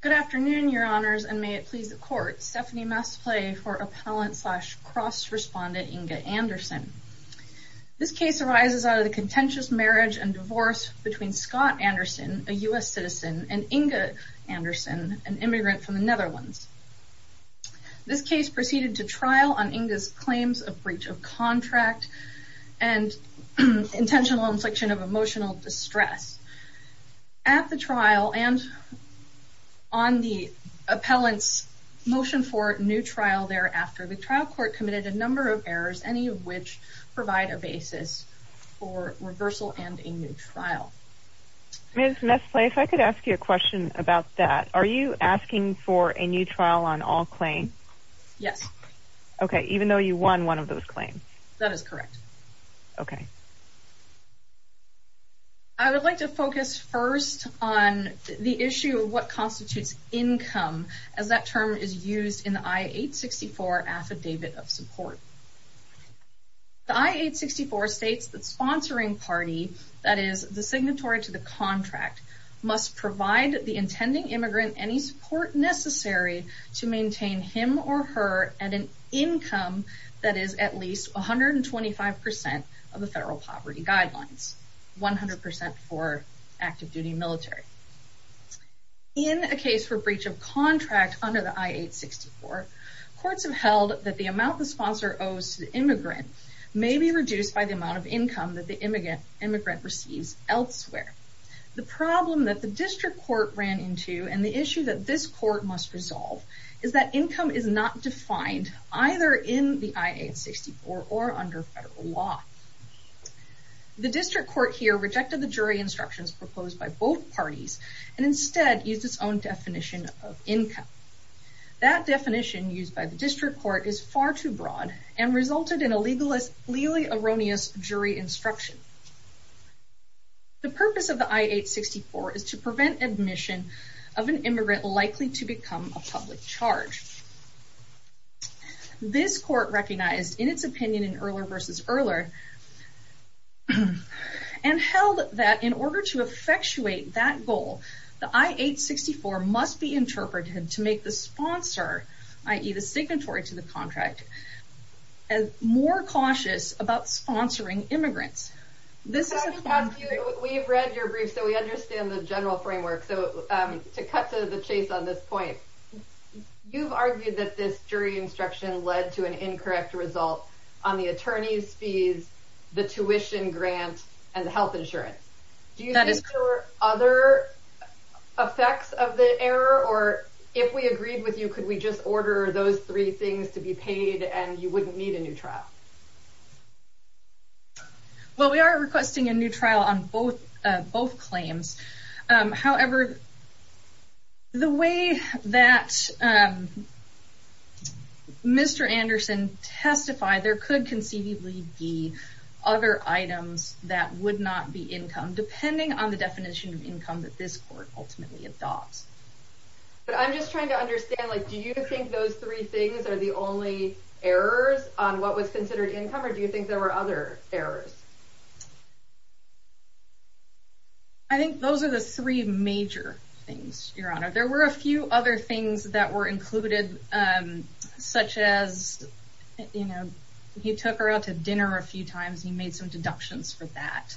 Good afternoon, Your Honors, and may it please the Court, Stephanie Masplay for appellant slash cross-respondent Inge Anderson. This case arises out of the contentious marriage and divorce between Scott Anderson, a U.S. citizen, and Inge Anderson, an immigrant from the Netherlands. This case proceeded to trial on Inge's claims of breach of contract and intentional infliction of emotional distress. At the trial and on the appellant's motion for new trial thereafter, the trial court committed a number of errors, any of which provide a basis for reversal and a new trial. Ms. Masplay, if I could ask you a question about that. Are you asking for a new trial on all claims? Yes. Okay, even though you won one of those claims. That is correct. Okay. I would like to focus first on the issue of what constitutes income, as that term is used in the I-864 Affidavit of Support. The I-864 states that sponsoring party, that is, the signatory to the contract, must provide the intending immigrant any support necessary to maintain him or her at an income that is at least 125% of the federal poverty guidelines, 100% for active duty military. In a case for breach of contract under the I-864, courts have held that the amount the sponsor owes to the immigrant may be reduced by the amount of income that the immigrant receives elsewhere. The problem that the district court ran into, and the issue that this court must resolve, is that income is not defined either in the I-864 or under federal law. The district court here rejected the jury instructions proposed by both parties and instead used its own definition of income. That definition used by the district court is far too broad and resulted in a legally erroneous jury instruction. The purpose of the I-864 is to prevent admission of an immigrant likely to become a public charge. This court recognized in its opinion in Erler v. Erler and held that in order to effectuate that goal, the I-864 must be interpreted to make the sponsor, i.e. the signatory to the contract, more cautious about sponsoring immigrants. We've read your brief, so we understand the general framework. So to cut to the chase on this point, you've argued that this jury instruction led to an incorrect result on the attorney's fees, the tuition grant, and the health insurance. Do you think there were other effects of the error? Or if we agreed with you, could we just order those three things to be paid and you wouldn't need a new trial? Well, we are requesting a new trial on both claims. However, the way that Mr. Anderson testified, there could conceivably be other items that would not be income, depending on the definition of income that this court ultimately adopts. But I'm just trying to understand, like, do you think those three things are the only errors on what was considered income? Or do you think there were other errors? I think those are the three major things, Your Honor. There were a few other things that were included, such as, you know, he took her out to dinner a few times. He made some deductions for that.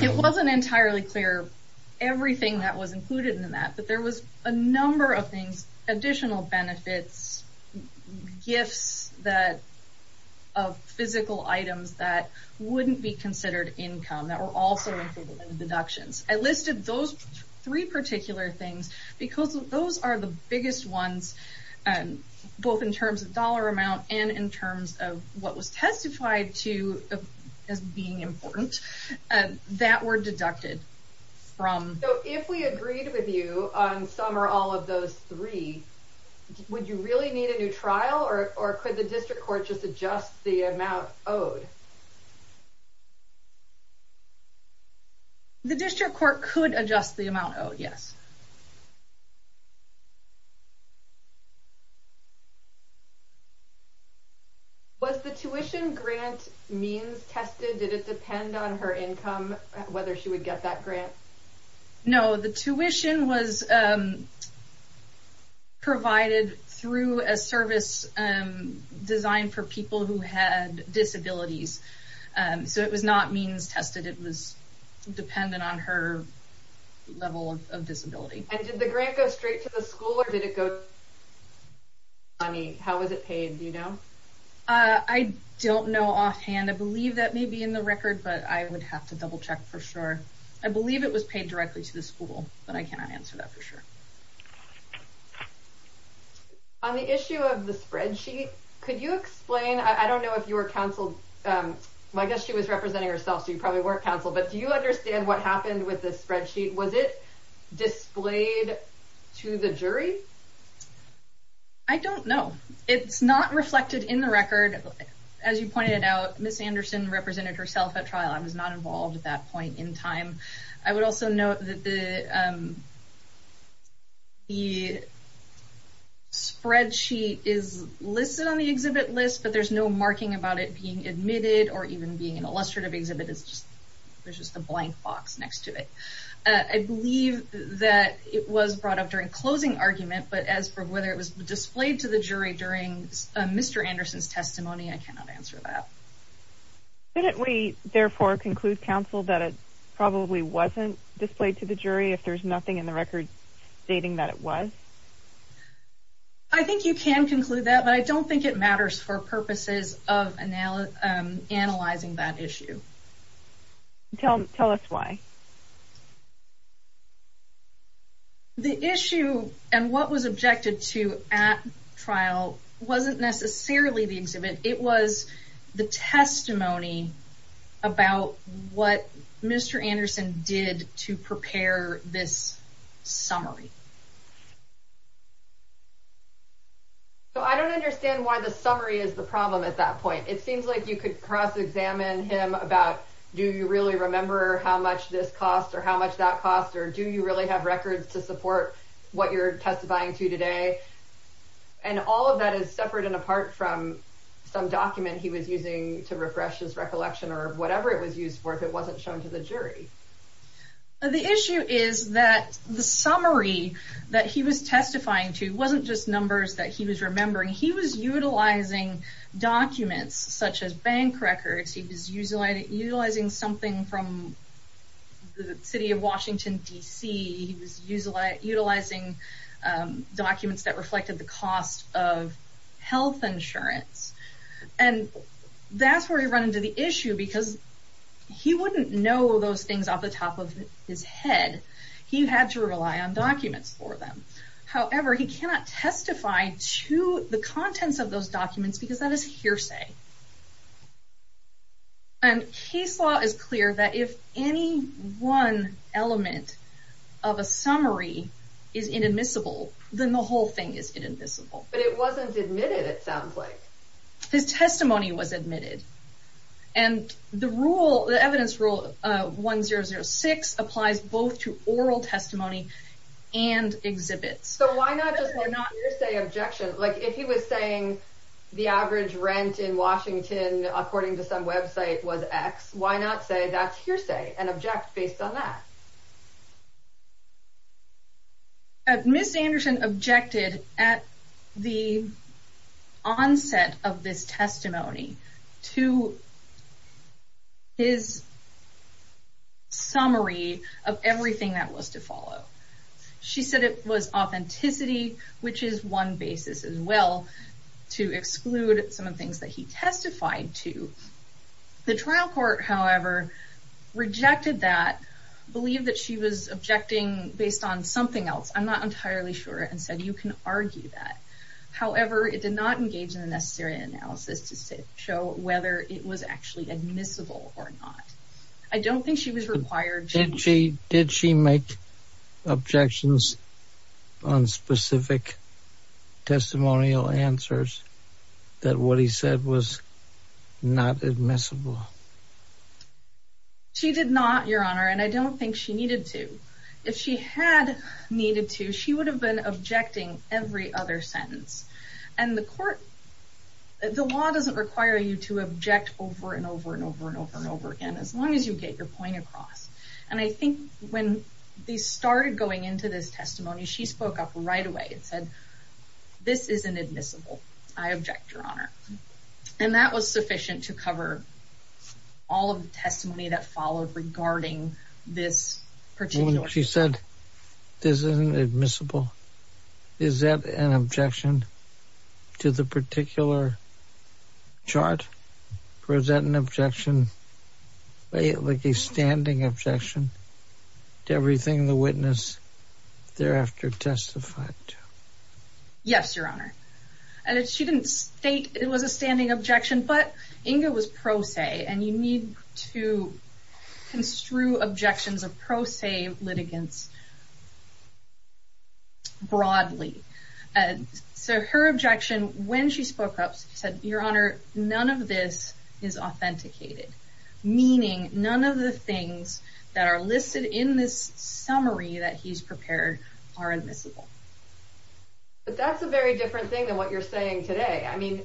It wasn't entirely clear everything that was included in that, but there was a number of things, additional benefits, gifts of physical items that wouldn't be considered income that were also included in the deductions. I listed those three particular things because those are the biggest ones, both in terms of dollar amount and in terms of what was testified to as being important, that were deducted. So if we agreed with you on some or all of those three, would you really need a new trial? Or could the district court just adjust the amount owed? The district court could adjust the amount owed, yes. Was the tuition grant means tested? Did it depend on her income, whether she would get that grant? No, the tuition was provided through a service designed for people who had disabilities. So it was not means tested. It was dependent on her level of disability. And did the grant go straight to the school, or did it go to the county? How was it paid? Do you know? I don't know offhand. I believe that may be in the record, but I would have to double check for sure. I believe it was paid directly to the school, but I cannot answer that for sure. On the issue of the spreadsheet, could you explain, I don't know if you were counseled, I guess she was representing herself, so you probably weren't counseled, but do you understand what happened with the spreadsheet? Was it displayed to the jury? I don't know. It's not reflected in the record. As you pointed out, Ms. Anderson represented herself at trial. I was not involved at that point in time. I would also note that the spreadsheet is listed on the exhibit list, but there's no marking about it being admitted or even being an illustrative exhibit. There's just a blank box next to it. I believe that it was brought up during closing argument, but as for whether it was displayed to the jury during Mr. Anderson's testimony, I cannot answer that. Couldn't we therefore conclude, counsel, that it probably wasn't displayed to the jury if there's nothing in the record stating that it was? I think you can conclude that, but I don't think it matters for purposes of analyzing that issue. Tell us why. The issue and what was objected to at trial wasn't necessarily the exhibit. It was the testimony about what Mr. Anderson did to prepare this summary. I don't understand why the summary is the problem at that point. It seems like you could cross examine him about, do you really remember how much this cost or how much that cost, or do you really have records to support what you're testifying to today? All of that is separate and apart from some document he was using to refresh his recollection or whatever it was used for if it wasn't shown to the jury. The issue is that the summary that he was testifying to wasn't just numbers that he was remembering. He was utilizing documents such as bank records. He was utilizing something from the city of Washington, D.C. He was utilizing documents that reflected the cost of health insurance. That's where we run into the issue because he wouldn't know those things off the top of his head. He had to rely on documents for them. However, he cannot testify to the contents of those documents because that is hearsay. Case law is clear that if any one element of a summary is inadmissible, then the whole thing is inadmissible. But it wasn't admitted, it sounds like. His testimony was admitted. The evidence rule 1006 applies both to oral testimony and exhibits. So why not just hearsay objection? If he was saying the average rent in Washington, according to some website, was X, why not say that's hearsay and object based on that? Ms. Anderson objected at the onset of this testimony to his summary of everything that was to follow. She said it was authenticity, which is one basis as well to exclude some of the things that he testified to. The trial court, however, rejected that, believed that she was objecting based on something else. I'm not entirely sure, and said you can argue that. However, it did not engage in the necessary analysis to show whether it was actually admissible or not. I don't think she was required. Did she make objections on specific testimonial answers that what he said was not admissible? She did not, Your Honor, and I don't think she needed to. If she had needed to, she would have been objecting every other sentence. And the court, the law doesn't require you to object over and over and over and over and over again, as long as you get your point across. And I think when they started going into this testimony, she spoke up right away and said, this isn't admissible. I object, Your Honor. And that was sufficient to cover all of the testimony that followed regarding this particular. She said, this isn't admissible. Is that an objection to the particular chart? Or is that an objection, like a standing objection to everything the witness thereafter testified to? Yes, Your Honor. And she didn't state it was a standing objection, but Inga was pro se, and you need to construe objections of pro se litigants broadly. So her objection when she spoke up said, Your Honor, none of this is authenticated, meaning none of the things that are listed in this summary that he's prepared are admissible. But that's a very different thing than what you're saying today. I mean,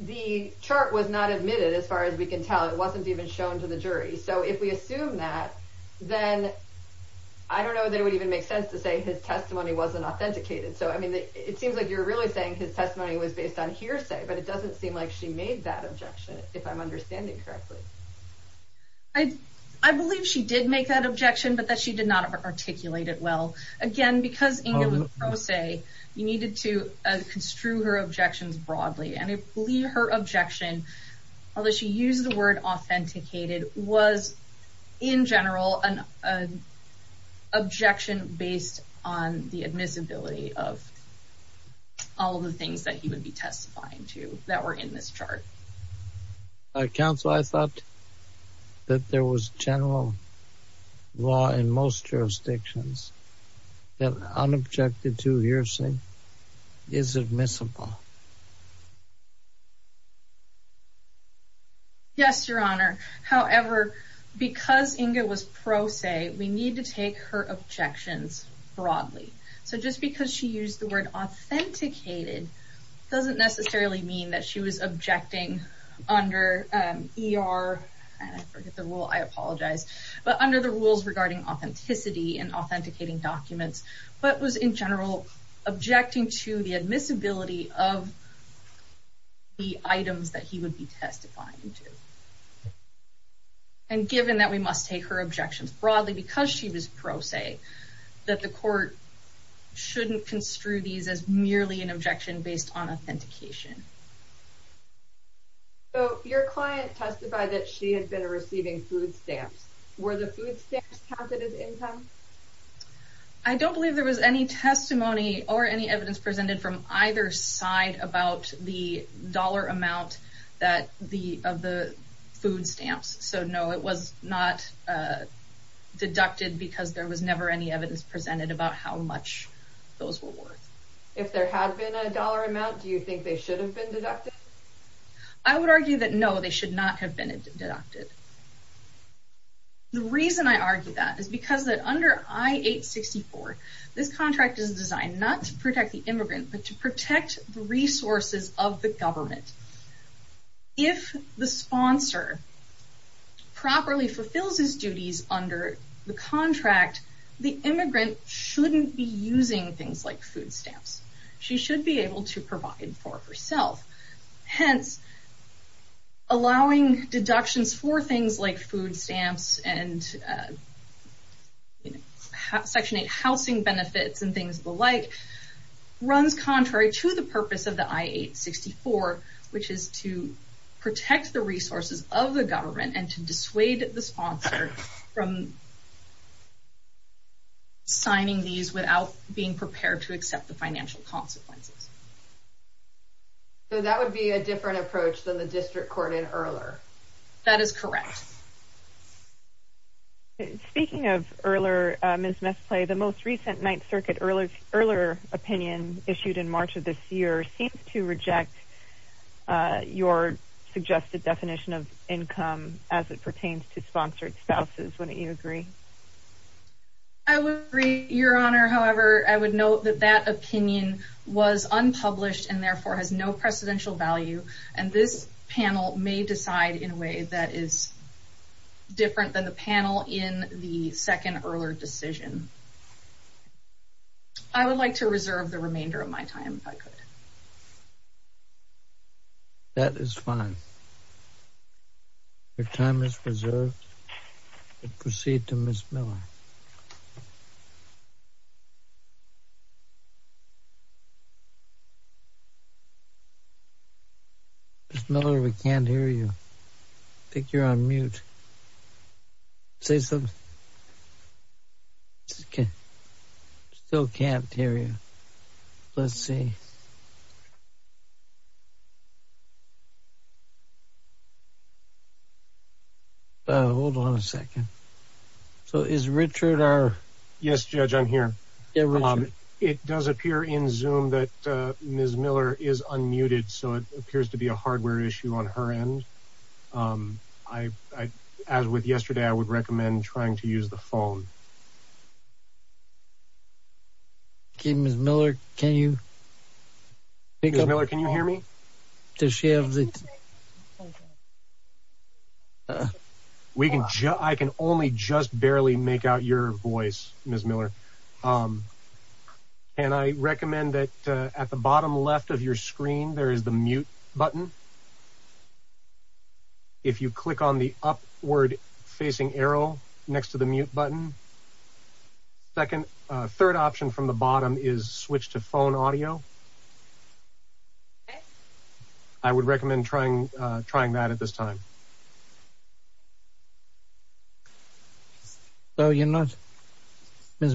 the chart was not admitted as far as we can tell. It wasn't even shown to the jury. So if we assume that, then I don't know that it would even make sense to say his testimony wasn't authenticated. So I mean, it seems like you're really saying his testimony was based on hearsay, but it doesn't seem like she made that objection, if I'm understanding correctly. I believe she did make that objection, but that she did not articulate it well. Again, because Inga was pro se, you needed to construe her objections broadly. And I believe her objection, although she used the word authenticated, was in general an objection based on the admissibility of all of the things that he would be testifying to that were in this chart. Counsel, I thought that there was general law in most jurisdictions that unobjected to hearsay is admissible. Yes, Your Honor. However, because Inga was pro se, we need to take her objections broadly. So under ER, I forget the rule, I apologize. But under the rules regarding authenticity and authenticating documents, but was in general, objecting to the admissibility of the items that he would be testifying to. And given that we must take her objections broadly, because she was pro se, that the court shouldn't construe these as merely an objection based on So your client testified that she had been receiving food stamps. Were the food stamps counted as income? I don't believe there was any testimony or any evidence presented from either side about the dollar amount of the food stamps. So no, it was not deducted because there was never any evidence presented about how much those were worth. If there had been a dollar amount, do you think they should have been deducted? I would argue that no, they should not have been deducted. The reason I argue that is because that under I-864, this contract is designed not to protect the immigrant, but to protect the resources of the government. If the sponsor properly fulfills his duties under the contract, the immigrant shouldn't be using things like food stamps. She should be able to provide for herself. Hence, allowing deductions for things like food stamps and Section 8 housing benefits and things of the like runs contrary to the purpose of the I-864, which is to protect the resources of the government and to dissuade the sponsor from signing these without being prepared to accept the financial consequences. So that would be a different approach than the district court in Ehrler? That is correct. Speaking of Ehrler, Ms. Mesplay, the most recent Ninth Circuit Ehrler opinion issued in March of this year seems to reject your suggested definition of income as it pertains to sponsored spouses. Wouldn't you agree? I would agree, Your Honor. However, I would note that that opinion was unpublished and therefore has no precedential value, and this panel may decide in a way that is different than the panel in the second Ehrler decision. I would like to reserve the remainder of my time if I could. That is fine. Your time is reserved. Proceed to Ms. Miller. Ms. Miller, we can't hear you. I think you're on mute. Say something. Still can't hear you. Let's see. Hold on a second. So is Richard? Yes, Judge, I'm here. It does appear in Zoom that Ms. Miller is unmuted, so it appears to be a hardware issue on her end. As with yesterday, I would recommend trying to use the phone. Ms. Miller, can you hear me? I can only just barely make out your voice, Ms. Miller, and I recommend that at the bottom left of your screen there is the mute button. If you click on the upward facing arrow next to the mute button, the third option from the bottom is switch to phone audio. I would recommend trying that at this time. Ms.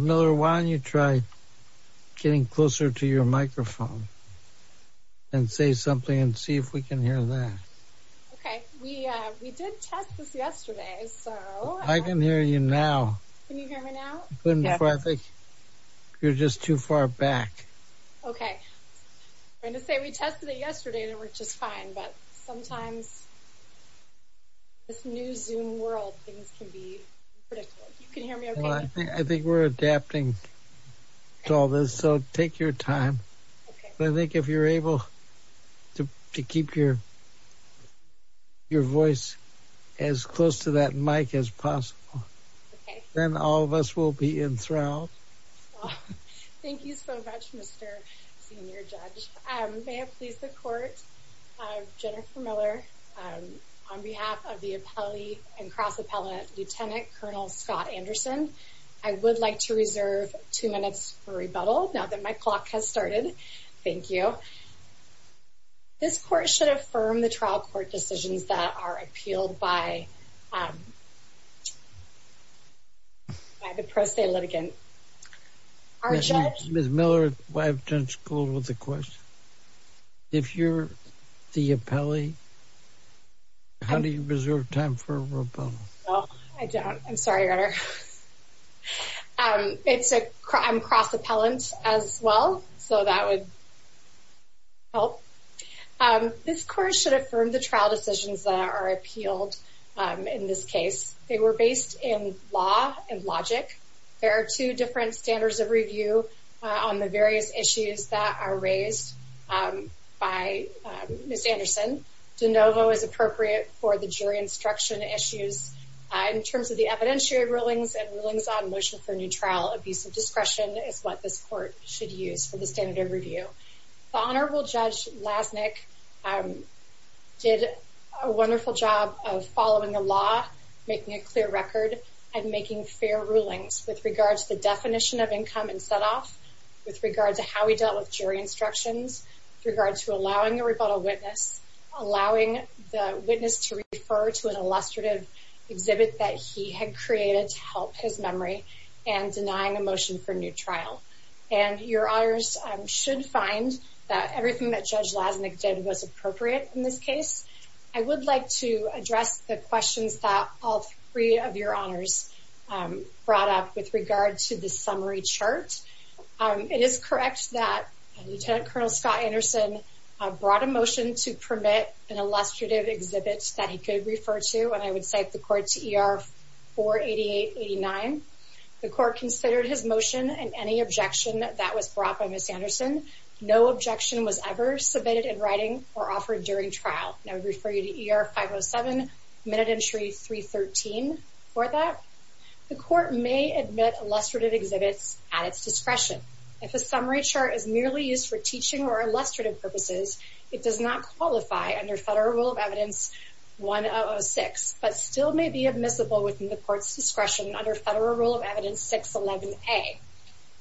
Miller, why don't you try getting closer to your microphone and say something and see if we can hear that. Okay. We did test this yesterday. I can hear you now. Can you hear me now? I think you're just too far back. Okay. I was going to say we tested it yesterday and it worked just fine, but sometimes in this new Zoom world, things can be unpredictable. You can hear me okay? I think we're adapting to all this, so take your time. I think if you're able to keep your voice as close to that mic as possible, then all of us will be enthralled. Thank you so much, Mr. Senior Judge. May it please the Court, Jennifer Miller, on behalf of the appellee and cross-appellate Lieutenant Colonel Scott Anderson, I would like to reserve two minutes for rebuttal now that my clock has started. Thank you. This Court should affirm the trial court decisions that are appealed by the pro se litigant. Ms. Miller, why don't you go with the question? If you're the appellee, how do you reserve time for rebuttal? I don't. I'm sorry, Your Honor. I'm cross-appellant as well, so that would help. This Court should affirm the trial decisions that are appealed in this case. They were based in law and logic. There are two different standards of review on the various issues that are raised by Ms. Anderson. De novo is appropriate for the rulings on motion for new trial. Abusive discretion is what this Court should use for the standard of review. The Honorable Judge Lasnik did a wonderful job of following the law, making a clear record, and making fair rulings with regard to the definition of income and set off, with regard to how he dealt with jury instructions, with regard to allowing the rebuttal witness, allowing the witness to refer to an illustrative exhibit that he had created to help his memory, and denying a motion for new trial. Your Honors should find that everything that Judge Lasnik did was appropriate in this case. I would like to address the questions that all three of your Honors brought up with regard to the summary chart. It is correct that Lieutenant Colonel Scott Anderson brought a motion to permit an illustrative exhibit that he could refer to, I would cite the Court's E.R. 48889. The Court considered his motion and any objection that was brought by Ms. Anderson. No objection was ever submitted in writing or offered during trial. And I would refer you to E.R. 507, Minute Entry 313 for that. The Court may admit illustrative exhibits at its discretion. If a summary chart is merely used for teaching or illustrative purposes, it does not qualify under Federal Rule of Evidence 1006, but still may be admissible within the Court's discretion under Federal Rule of Evidence 611A.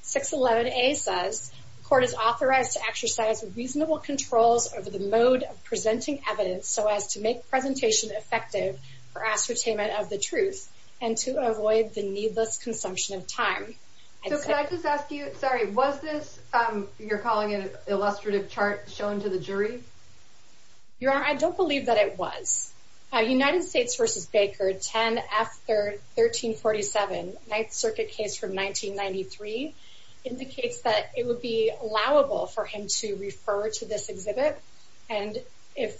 611A says the Court is authorized to exercise reasonable controls over the mode of presenting evidence so as to make presentation effective for ascertainment of the truth and to avoid the needless consumption of time. So can I just ask you, sorry, was this, you're calling it an illustrative chart shown to the jury? Your Honor, I don't believe that it was. United States v. Baker 10 F. 1347, Ninth Circuit case from 1993, indicates that it would be allowable for him to refer to this exhibit. And if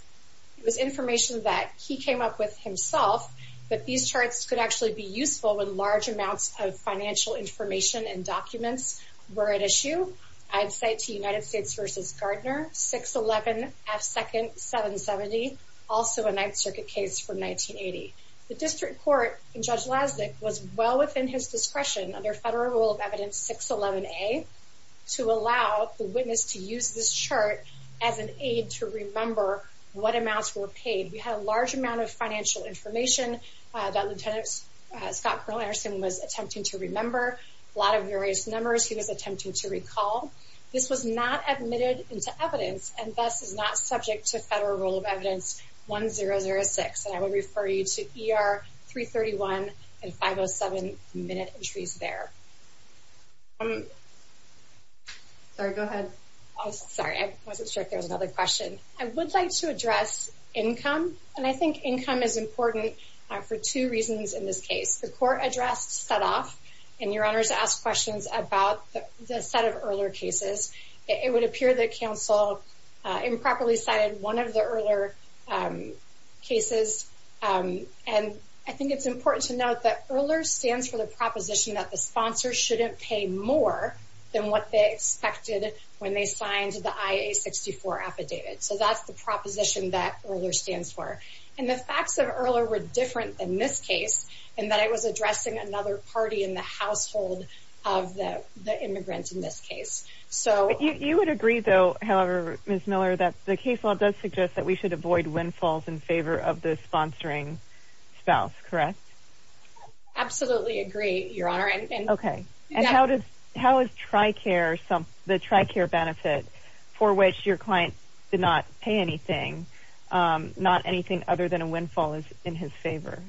it was information that he came up with himself, that these charts could actually be useful with large amounts of financial information and documents were at issue, I'd cite to United States v. Gardner 611 F. 2nd. 770, also a Ninth Circuit case from 1980. The District Court in Judge Lasnik was well within his discretion under Federal Rule of Evidence 611A to allow the witness to use this chart as an aid to remember what amounts were paid. We had a large amount of financial information that Lieutenant Scott Colonel Anderson was attempting to remember. A lot of various numbers he was attempting to recall. This was not admitted into evidence and thus is not subject to Federal Rule of Evidence 1006. And I would refer you to ER 331 and 507 minute entries there. Sorry, go ahead. Sorry, I wasn't sure if there was another question. I would like to address income. And I think income is important for two reasons in this case. The court address set off and your honors asked questions about the set of ERLR cases. It would appear that counsel improperly cited one of the ERLR cases. And I think it's important to note that ERLR stands for the proposition that the sponsor shouldn't pay more than what they expected when they signed the IA-64 affidavit. So that's the proposition that ERLR stands for. And the facts of ERLR were different than this case in that it was addressing another party in the household of the immigrant in this case. You would agree though, however, Ms. Miller, that the case law does suggest that we should avoid windfalls in favor of the sponsoring spouse, correct? Absolutely agree, your honor. Okay. And how does, how is TRICARE, the TRICARE benefit for which your client did not pay anything, not anything other than a windfall is in his favor?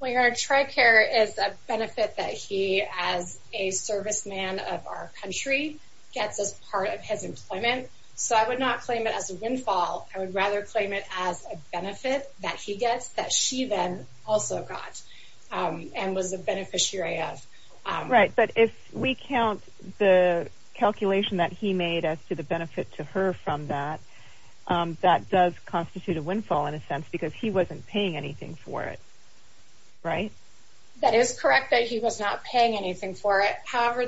Well, your honor, TRICARE is a benefit that he, as a serviceman of our country, gets as part of his employment. So I would not claim it as a windfall. I would rather claim it as a benefit that he gets that she then also got and was a beneficiary of. Right. But if we count the calculation that he made as to the benefit to her from that, that does constitute a windfall in a sense because he wasn't paying anything for it, right? That is correct that he was not paying anything for it. However,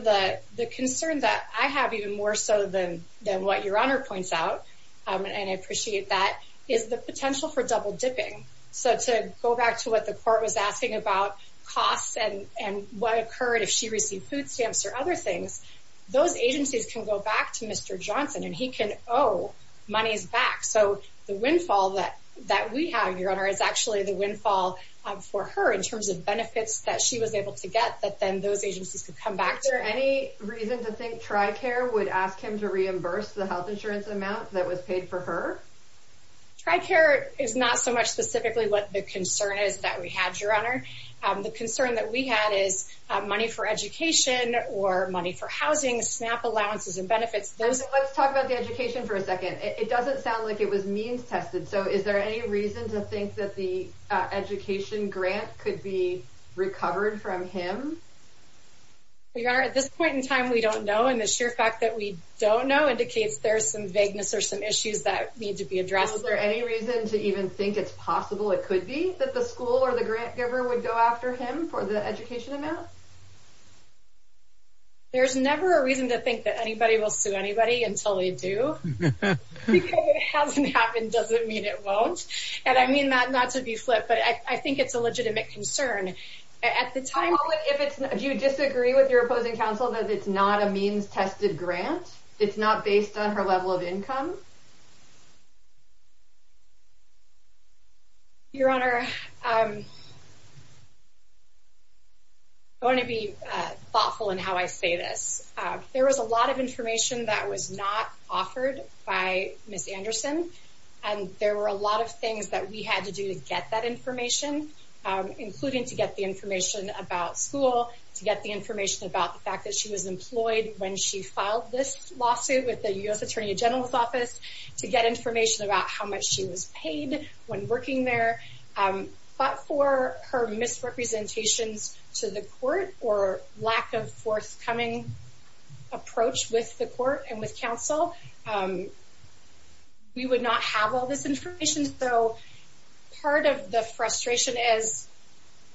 the concern that I have even more so than what your honor points out, and I appreciate that, is the potential for double dipping. So to go back to what the court was asking about costs and what occurred if she received food stamps or other things, those agencies can go back to Mr. Johnson and he can owe monies back. So the windfall that we have, your honor, is actually the windfall for her in terms of benefits that she was able to get that then those agencies could come back to her. Is there any reason to think TRICARE would ask him to reimburse the health insurance amount that was paid for her? TRICARE is not so much specifically what the concern is that we had, your honor. The concern that we had is money for education or money for housing, SNAP allowances and benefits. Let's talk about the education for a second. It doesn't sound like it was means tested. So is there any reason to think that the education grant could be recovered from him? Your honor, at this point in time, we don't know. And the indicates there's some vagueness or some issues that need to be addressed. Is there any reason to even think it's possible it could be that the school or the grant giver would go after him for the education amount? There's never a reason to think that anybody will sue anybody until they do. Because it hasn't happened doesn't mean it won't. And I mean that not to be flip, but I think it's a legitimate concern at the time. If you disagree with your opposing counsel that it's not a means tested grant, it's not based on her level of income. Your honor, I'm going to be thoughtful in how I say this. There was a lot of information that was not offered by Miss Anderson. And there were a lot of things that we had to do to get that information, including to get the information about school, to get the information about the fact that she was employed when she filed this lawsuit with the U.S. Attorney General's Office, to get information about how much she was paid when working there. But for her misrepresentations to the court or lack of forthcoming approach with the court and with counsel, we would not have all this information. So part of the frustration is,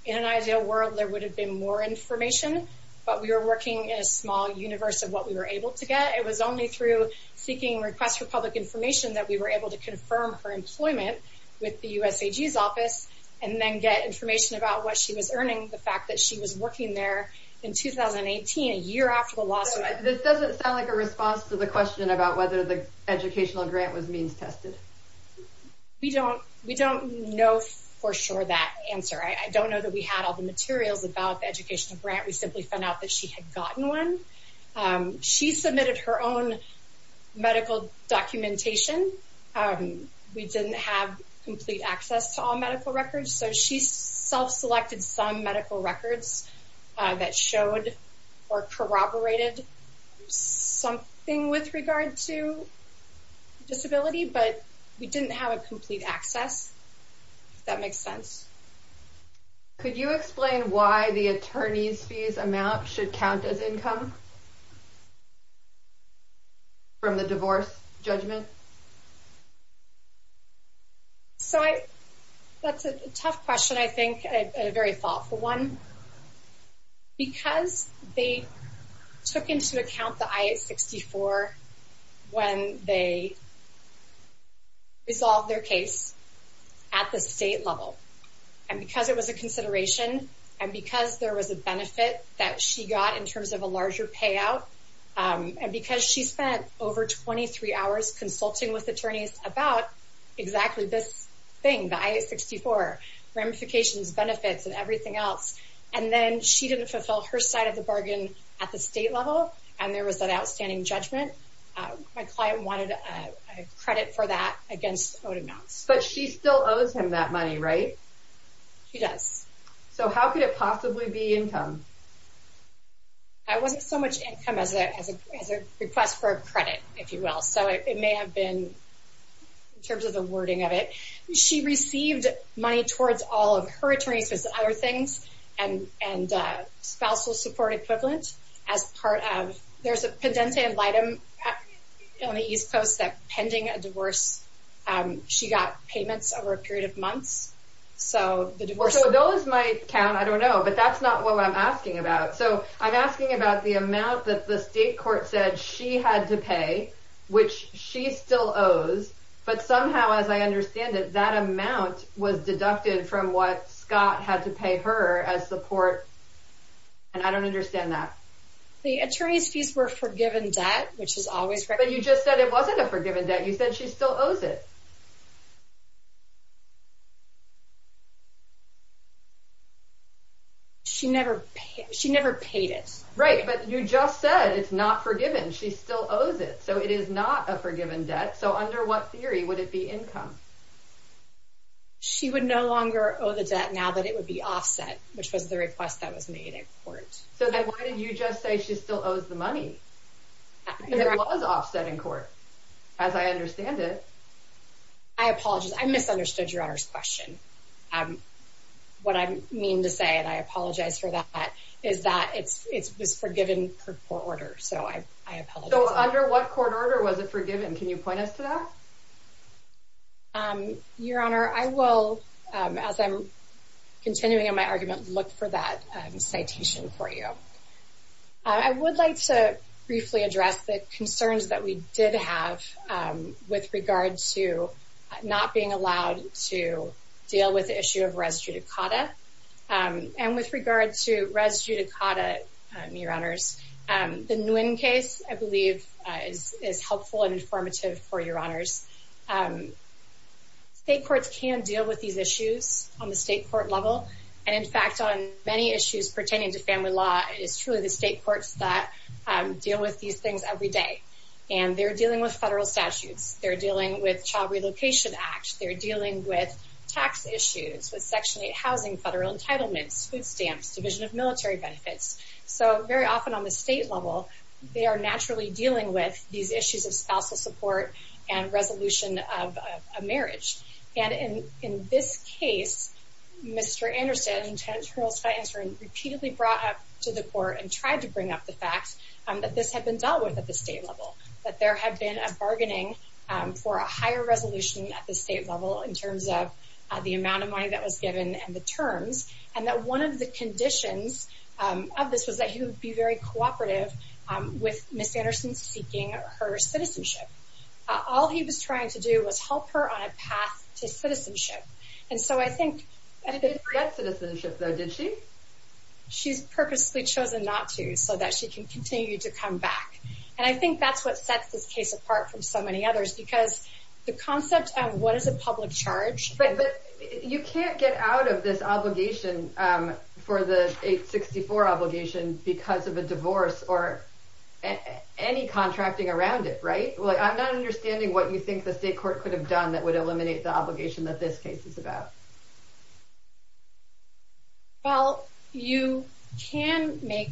in an ideal world, there would have been more information. But we were working in a small universe of what we were able to get. It was only through seeking requests for public information that we were able to confirm her employment with the USAG's office and then get information about what she was earning, the fact that she was working there in 2018, a year after the lawsuit. This doesn't sound like a response to the question about whether the educational grant was means tested. We don't know for sure that answer. I don't know that we had all the materials about the educational grant. We simply found out that she had gotten one. She submitted her own medical documentation. We didn't have complete access to all medical records. So she self-selected some medical records that showed or corroborated something with regard to disability, but we didn't have a complete access, if that makes sense. Could you explain why the attorney's fees amount should count as income from the divorce judgment? So that's a tough question, I think, a very thoughtful one. Because they took into account the I-864 when they resolved their case at the state level, and because it was a consideration, and because there was a benefit that she got in terms of a larger payout, and because she spent over 23 hours consulting with attorneys about exactly this thing, the I-864, ramifications, benefits, and everything else, and then she didn't fulfill her side of the bargain at the state level, and there was an outstanding judgment. My client wanted a credit for that against owed amounts. But she still owes him that money, right? She does. So how could it possibly be income? It wasn't so much income as a request for a credit, if you will. So it may have been in terms of the wording of it. She received money towards all of her attorney's other things, and spousal support equivalent, as part of... There's a pendente litem on the East Coast that pending a divorce, she got payments over a period of months. So the divorce... So those might count, I don't know, but that's not what I'm asking about. So I'm asking about the amount that the state court said she had to pay, which she still owes, but somehow, as I understand it, that amount was deducted from what Scott had to pay her as support, and I don't understand that. The attorney's fees were forgiven debt, which is always... But you just said it wasn't a forgiven debt. You said she still owes it. She never paid it. Right, but you just said it's not forgiven. She still owes it, so it is not a forgiven debt. So under what theory would it be income? She would no longer owe the debt now that it would be offset, which was the request that was made in court. So then why did you just say she still owes the money? Because it was offset in court, as I understand it. I apologize. I misunderstood Your Honor's question. What I mean to say, and I apologize for that, is that it was forgiven per court order, so I apologize. So under what court order was it forgiven? Can you point us to that? Your Honor, I will, as I'm continuing on my argument, look for that citation for you. I would like to briefly address the concerns that we did have with regard to not being allowed to deal with the issue of res judicata, and with regard to res judicata, Your Honors, the Nguyen case, I believe, is helpful and informative for Your Honors. State courts can deal with these issues on the state court level. And in fact, on many issues pertaining to family law, it is truly the state courts that deal with these things every day. And they're dealing with federal statutes. They're dealing with Child Relocation Act. They're dealing with tax issues, with Section 8 housing, federal entitlements, food stamps, Division of Military Benefits. So very often on the state level, they are naturally dealing with these issues of spousal support and resolution of a marriage. And in this case, Mr. Anderson, Lieutenant Colonel Scott Anderson, repeatedly brought up to the court and tried to bring up the fact that this had been dealt with at the state level, that there had been a bargaining for a higher resolution at the state level in terms of the amount of money that was given and the terms, and that one of the conditions of this was that he would be very cooperative with Ms. Anderson seeking her citizenship. All he was trying to do was help her on a path to citizenship. And so I think... She didn't get citizenship though, did she? She's purposely chosen not to so that she can continue to come back. And I think that's what sets this case apart from so many others because the concept of what is a public charge... You can't get out of this obligation for the 864 obligation because of a divorce or any contracting around it, right? I'm not understanding what you think the state court could have done that would eliminate the obligation that this case is about. Well, you can make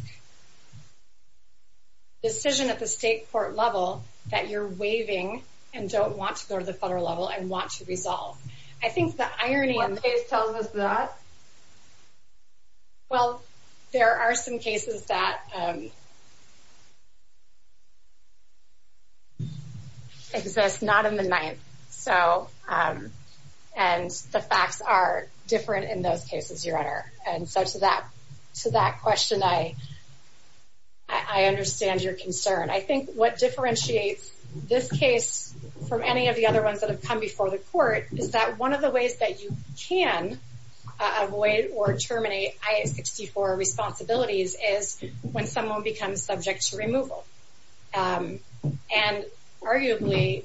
a decision at the state court level that you're waiving and don't want to go to federal level and want to resolve. I think the irony... One case tells us that. Well, there are some cases that exist not in the ninth. And the facts are different in those cases, Your Honor. And so to that question, I understand your concern. I think what differentiates this case from any of other ones that have come before the court is that one of the ways that you can avoid or terminate I-864 responsibilities is when someone becomes subject to removal. And arguably,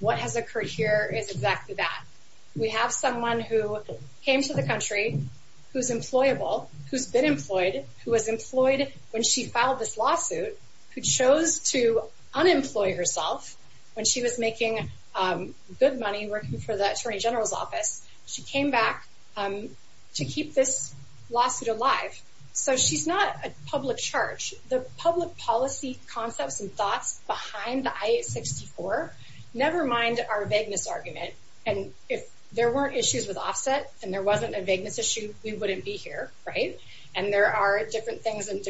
what has occurred here is exactly that. We have someone who came to the country, who's employable, who's been employed, who was employed when she filed this lawsuit, who chose to unemploy herself when she was making good money working for the Attorney General's office. She came back to keep this lawsuit alive. So she's not a public charge. The public policy concepts and thoughts behind the I-864 never mind our vagueness argument. And if there weren't issues with offset and there wasn't a vagueness issue, we wouldn't be here, right? And there are different things in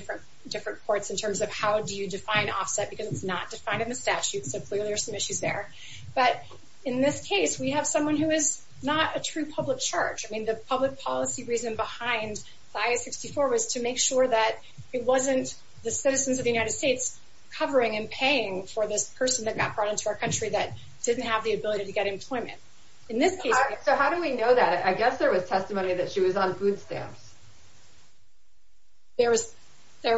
different courts in terms of how do you define offset because it's not defined in the statute. So clearly, there's some issues there. But in this case, we have someone who is not a true public charge. I mean, the public policy reason behind I-864 was to make sure that it wasn't the citizens of the United States covering and paying for this person that got brought into our country that didn't have the ability to get employment. In this case- So how do we know that? I guess there was testimony that she was on food stamps. There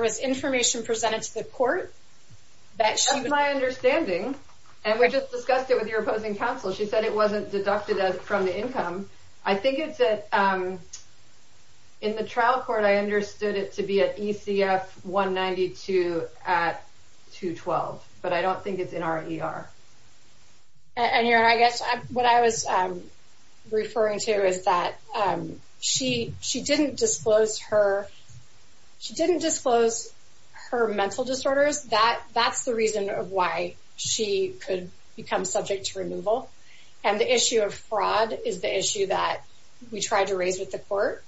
was information presented to the court that she- That's my understanding. And we just discussed it with your opposing counsel. She said it wasn't deducted from the income. I think it's in the trial court, I understood it to be at ECF 192 at 212. But I don't think it's in our ER. And I guess what I was referring to is that she didn't disclose her mental disorders. That's the reason of why she could become subject to removal. And the issue of fraud is the issue that we tried to raise with the court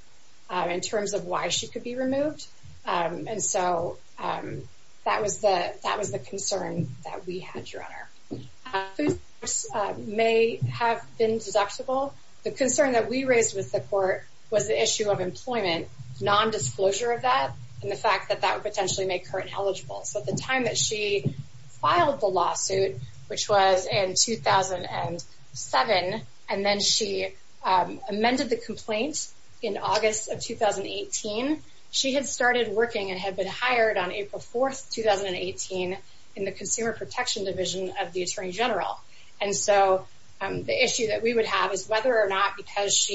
in terms of why she could be removed. And so that was the concern that we had, Your Honor. Food stamps may have been deductible. The concern that we raised with the court was the issue of employment, non-disclosure of that, and the fact that that would potentially make her ineligible. So at the time that she filed the lawsuit, which was in 2007, and then she amended the complaint in August of 2018, she had started working and had been hired on April 4th, 2018, in the Consumer Protection Division of the Attorney General. And so the issue that we would have is whether or not because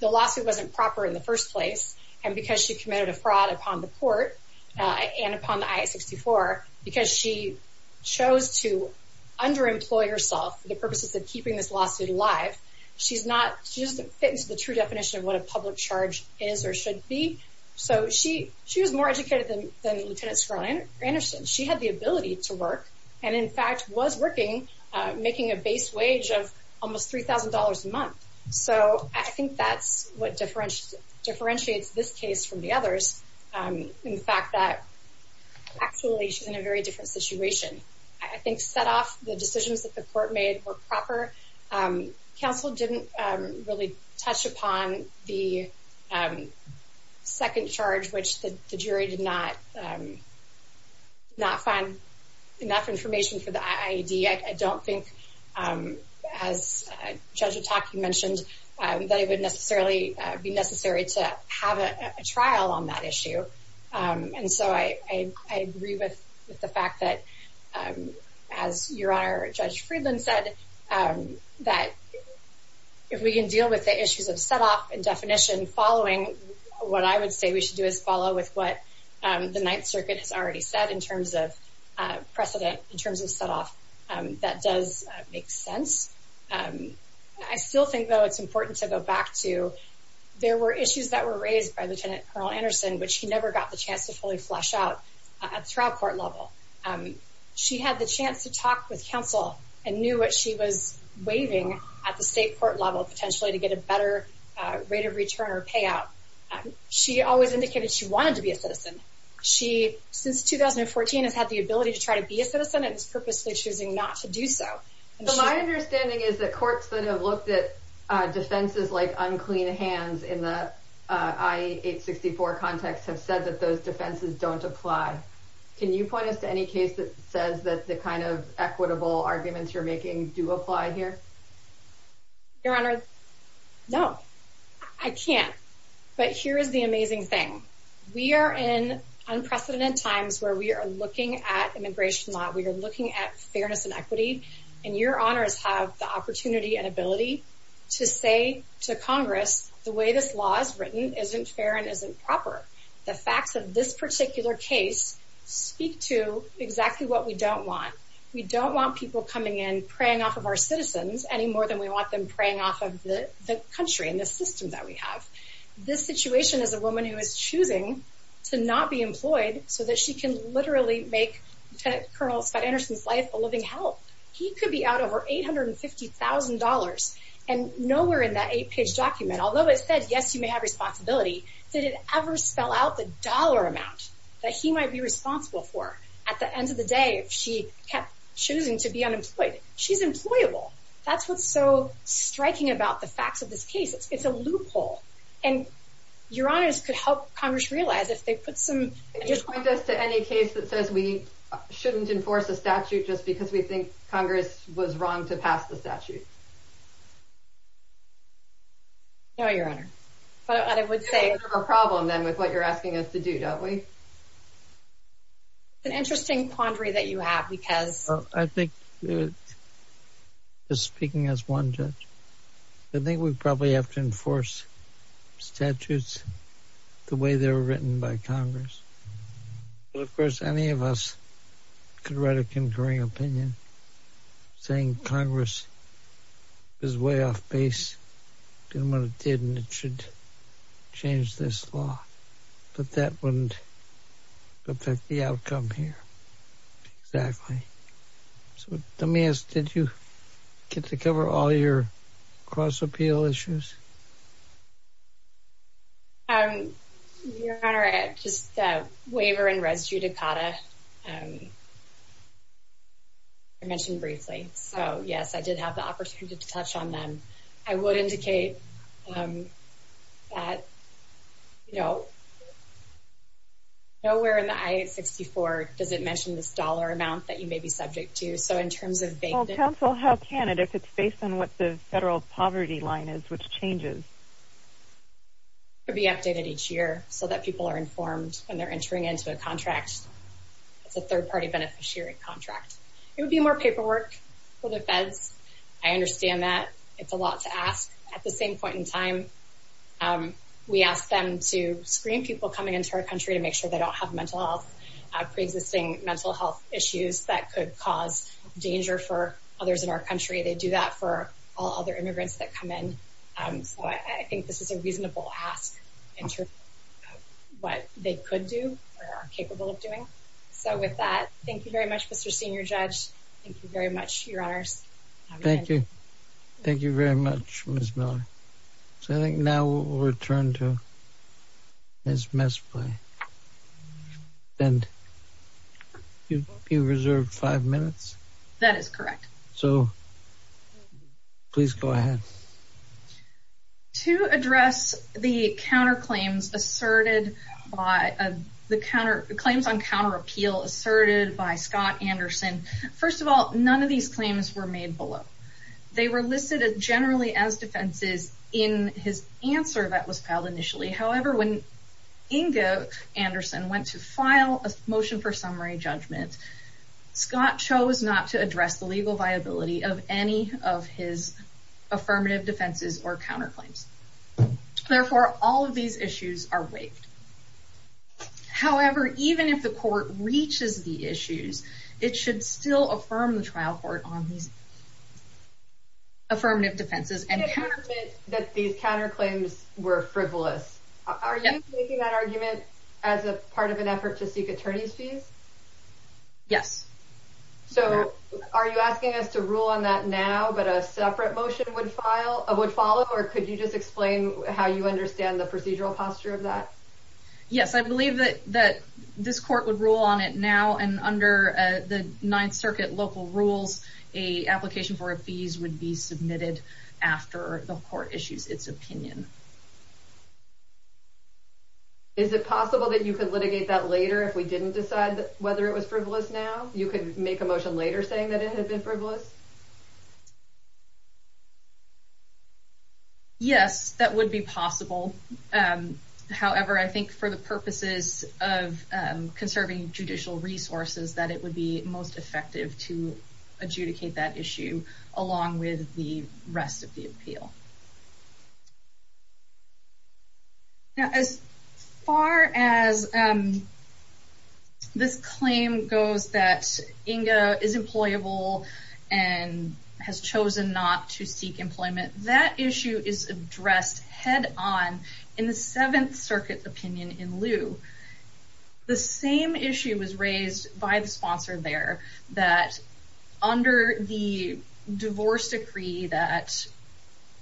the lawsuit wasn't proper in the first place, and because she committed a fraud upon the court and upon the I-64, because she chose to underemploy herself for the purposes of keeping this lawsuit alive, she doesn't fit into the true than Lieutenant Skrull-Anderson. She had the ability to work, and in fact was working, making a base wage of almost $3,000 a month. So I think that's what differentiates this case from the others. In fact, that actually she's in a very different situation. I think set off the decisions that the court made were proper. Counsel didn't really touch upon the second charge, which the jury did not find enough information for the IED. I don't think, as Judge Atak you mentioned, that it would necessarily be necessary to have a trial on that issue. And so I agree with the fact that, as Your Honor, Judge Friedland said, that if we can deal with the issues of set off and definition following, what I would say we should do is follow with what the Ninth Circuit has already said in terms of precedent, in terms of set off. That does make sense. I still think, though, it's important to go back to there were issues that were raised by Lieutenant Skrull-Anderson, which she never got the chance to fully flesh out at trial court level. She had the chance to talk with counsel and knew what she was waiving at the state court level, potentially to get a better rate of return or payout. She always indicated she wanted to be a citizen. She, since 2014, has had the ability to try to be a citizen and is purposely choosing not to do so. But my understanding is that courts that have looked at defenses like unclean hands in the I-864 context have said that those defenses don't apply. Can you point us to any case that says that the kind of equitable arguments you're making do apply here? Your Honor, no, I can't. But here is the amazing thing. We are in unprecedented times where we are looking at immigration law, we are looking at fairness and equity, and your honors have the opportunity and ability to say to Congress, the way this law is written isn't fair and isn't proper. The facts of this particular case speak to exactly what we don't want. We don't want people coming in, preying off of our citizens, any more than we want them preying off of the country and the system that we have. This situation is a woman who is choosing to not be employed so that she can literally make Lieutenant Colonel Scott Anderson's life a living hell. He could be out over $850,000 and nowhere in that eight-page document, although it said, yes, you may have responsibility, did it ever spell out the dollar amount that he might be responsible for? At the point, she's employable. That's what's so striking about the facts of this case. It's a loophole. And your honors could help Congress realize if they put some... It doesn't point us to any case that says we shouldn't enforce a statute just because we think Congress was wrong to pass the statute. No, your honor. But I would say... We don't have a problem then with what you're asking us to do, don't we? It's an interesting quandary that you have because... I think just speaking as one judge, I think we probably have to enforce statutes the way they were written by Congress. Of course, any of us could write a concurring opinion saying Congress is way off base doing what it did and it should change this law, but that wouldn't affect the outcome here. Exactly. So let me ask, did you get to cover all your cross-appeal issues? Your honor, just the waiver and res judicata I mentioned briefly. So, yes, I did have the opportunity to touch on them. I would indicate that, you know, nowhere in the I-864 does it mention this dollar amount that you may be subject to. So in terms of... Well, counsel, how can it if it's based on what the federal poverty line is, which changes? It would be updated each year so that people are informed when they're entering into a contract. It's a third-party beneficiary contract. It would be more paperwork for the feds. I understand that. It's a lot to ask. At the same point in time, we asked them to screen people coming into our country to make sure they don't have mental health, pre-existing mental health issues that could cause danger for others in our country. They do that for all other immigrants that come in. So I think this is a reasonable ask in terms of what they could do or are capable of doing. So with that, thank you very much, Mr. Senior Judge. Thank you very much, Your Honors. Thank you. Thank you very much, Ms. Miller. So I think now we'll return to Ms. Mespley. And you reserved five minutes? That is correct. So please go ahead. To address the counterclaims asserted by the counterclaims on counter appeal asserted by Scott Anderson, first of all, none of these claims were made below. They were listed generally as defenses in his answer that was filed initially. However, when Inga Anderson went to file a motion for defenses or counterclaims, therefore, all of these issues are waived. However, even if the court reaches the issues, it should still affirm the trial court on these affirmative defenses and that these counterclaims were frivolous. Are you making that argument as a part of an effort to seek attorney's fees? Yes. So are you asking us to rule on that now, but a separate motion would follow or could you just explain how you understand the procedural posture of that? Yes, I believe that this court would rule on it now and under the Ninth Circuit local rules, a application for a fees would be submitted after the court issues its opinion. Is it possible that you could litigate that later if we didn't decide whether it was frivolous now? You could make a motion later saying that it had been frivolous? Yes, that would be possible. However, I think for the purposes of conserving judicial resources, that it would be most effective to adjudicate that issue along with the rest of the appeal. Now, as far as this claim goes that INGA is employable and has chosen not to seek employment, that issue is addressed head on in the Seventh Circuit opinion in lieu. The same issue was raised by the sponsor there that under the divorce decree that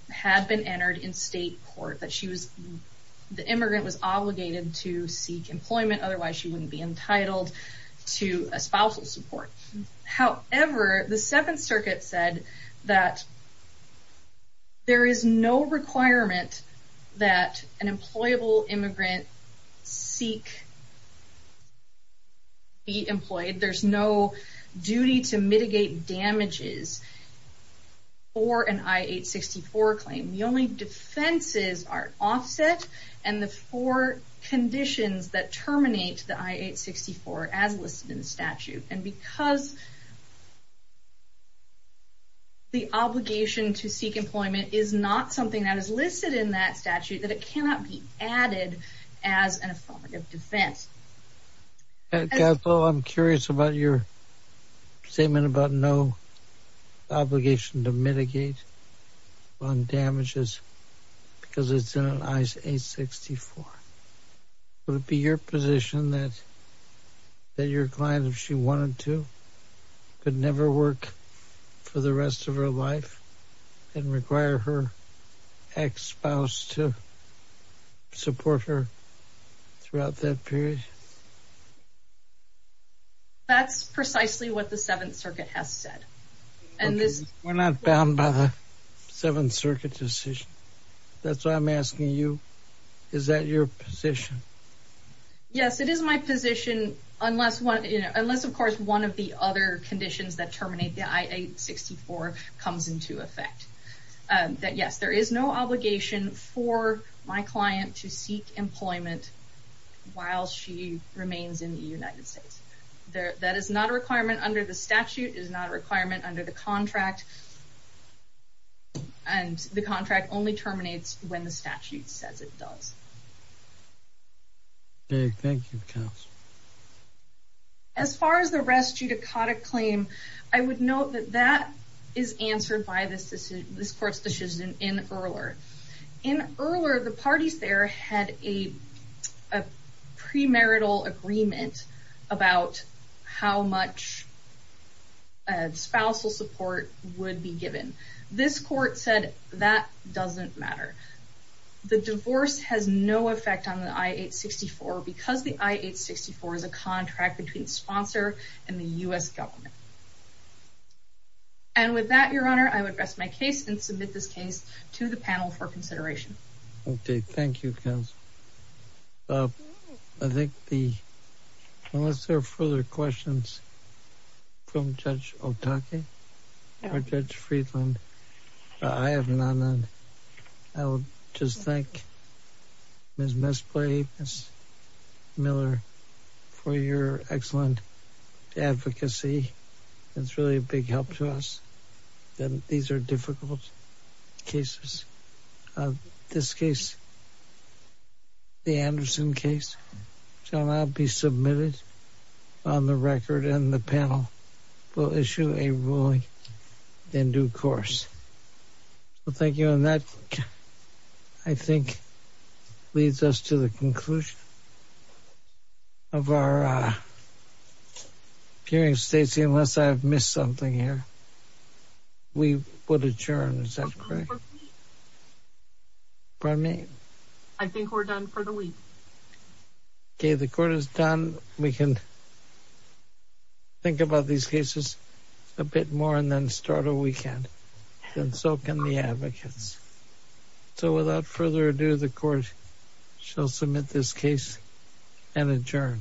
had been entered in state court, the immigrant was obligated to seek employment, otherwise she wouldn't be entitled to a spousal support. However, the Seventh Circuit said that there is no requirement that an employable immigrant seek to be employed. There's no duty to mitigate damages for an I-864 claim. The only defenses are offset and the four conditions that terminate the I-864 as listed in the statute. And because the obligation to seek employment is not something that is listed in that statute, that it cannot be added as an affirmative defense. Kathleen, I'm curious about your statement about no obligation to mitigate on damages because it's in an I-864. Would it be your position that your client, if she wanted to, could never work for the rest of her life and require her ex-spouse to support her throughout that period? That's precisely what the Seventh Circuit has said. We're not bound by the Seventh Circuit decision. That's why I'm asking you, is that your position? Yes, it is my position, unless of course one of the other conditions that terminate the I-864 comes into effect. Yes, there is no obligation for my client to seek employment while she remains in the United States. That is not a requirement under the statute, is not a requirement under the contract, and the contract only terminates when the statute says it does. Thank you, counsel. As far as the res judicata claim, I would note that that is answered by this court's decision in Ehrler. In Ehrler, the parties there had a premarital agreement about how much spousal support would be given. This court said that doesn't matter. The divorce has no effect on the I-864 because the I-864 is a contract between the sponsor and the U.S. government. And with that, Your Honor, I would rest my case and submit this case to the panel for consideration. Okay, thank you, counsel. Well, I think unless there are further questions from Judge Otake or Judge Friedland, I have none. I would just thank Ms. Mesplay, Ms. Miller, for your excellent advocacy. That's really a big help to us. These are difficult cases. In this case, the Anderson case shall now be submitted on the record, and the panel will issue a ruling in due course. Thank you. And that, I think, leads us to the conclusion of our hearing, Stacey, unless I've missed something here. We would adjourn. Is that correct? Pardon me? I think we're done for the week. Okay, the court is done. We can think about these cases a bit more and then start a weekend, and so can the advocates. So without further ado, the court shall submit this case and adjourn.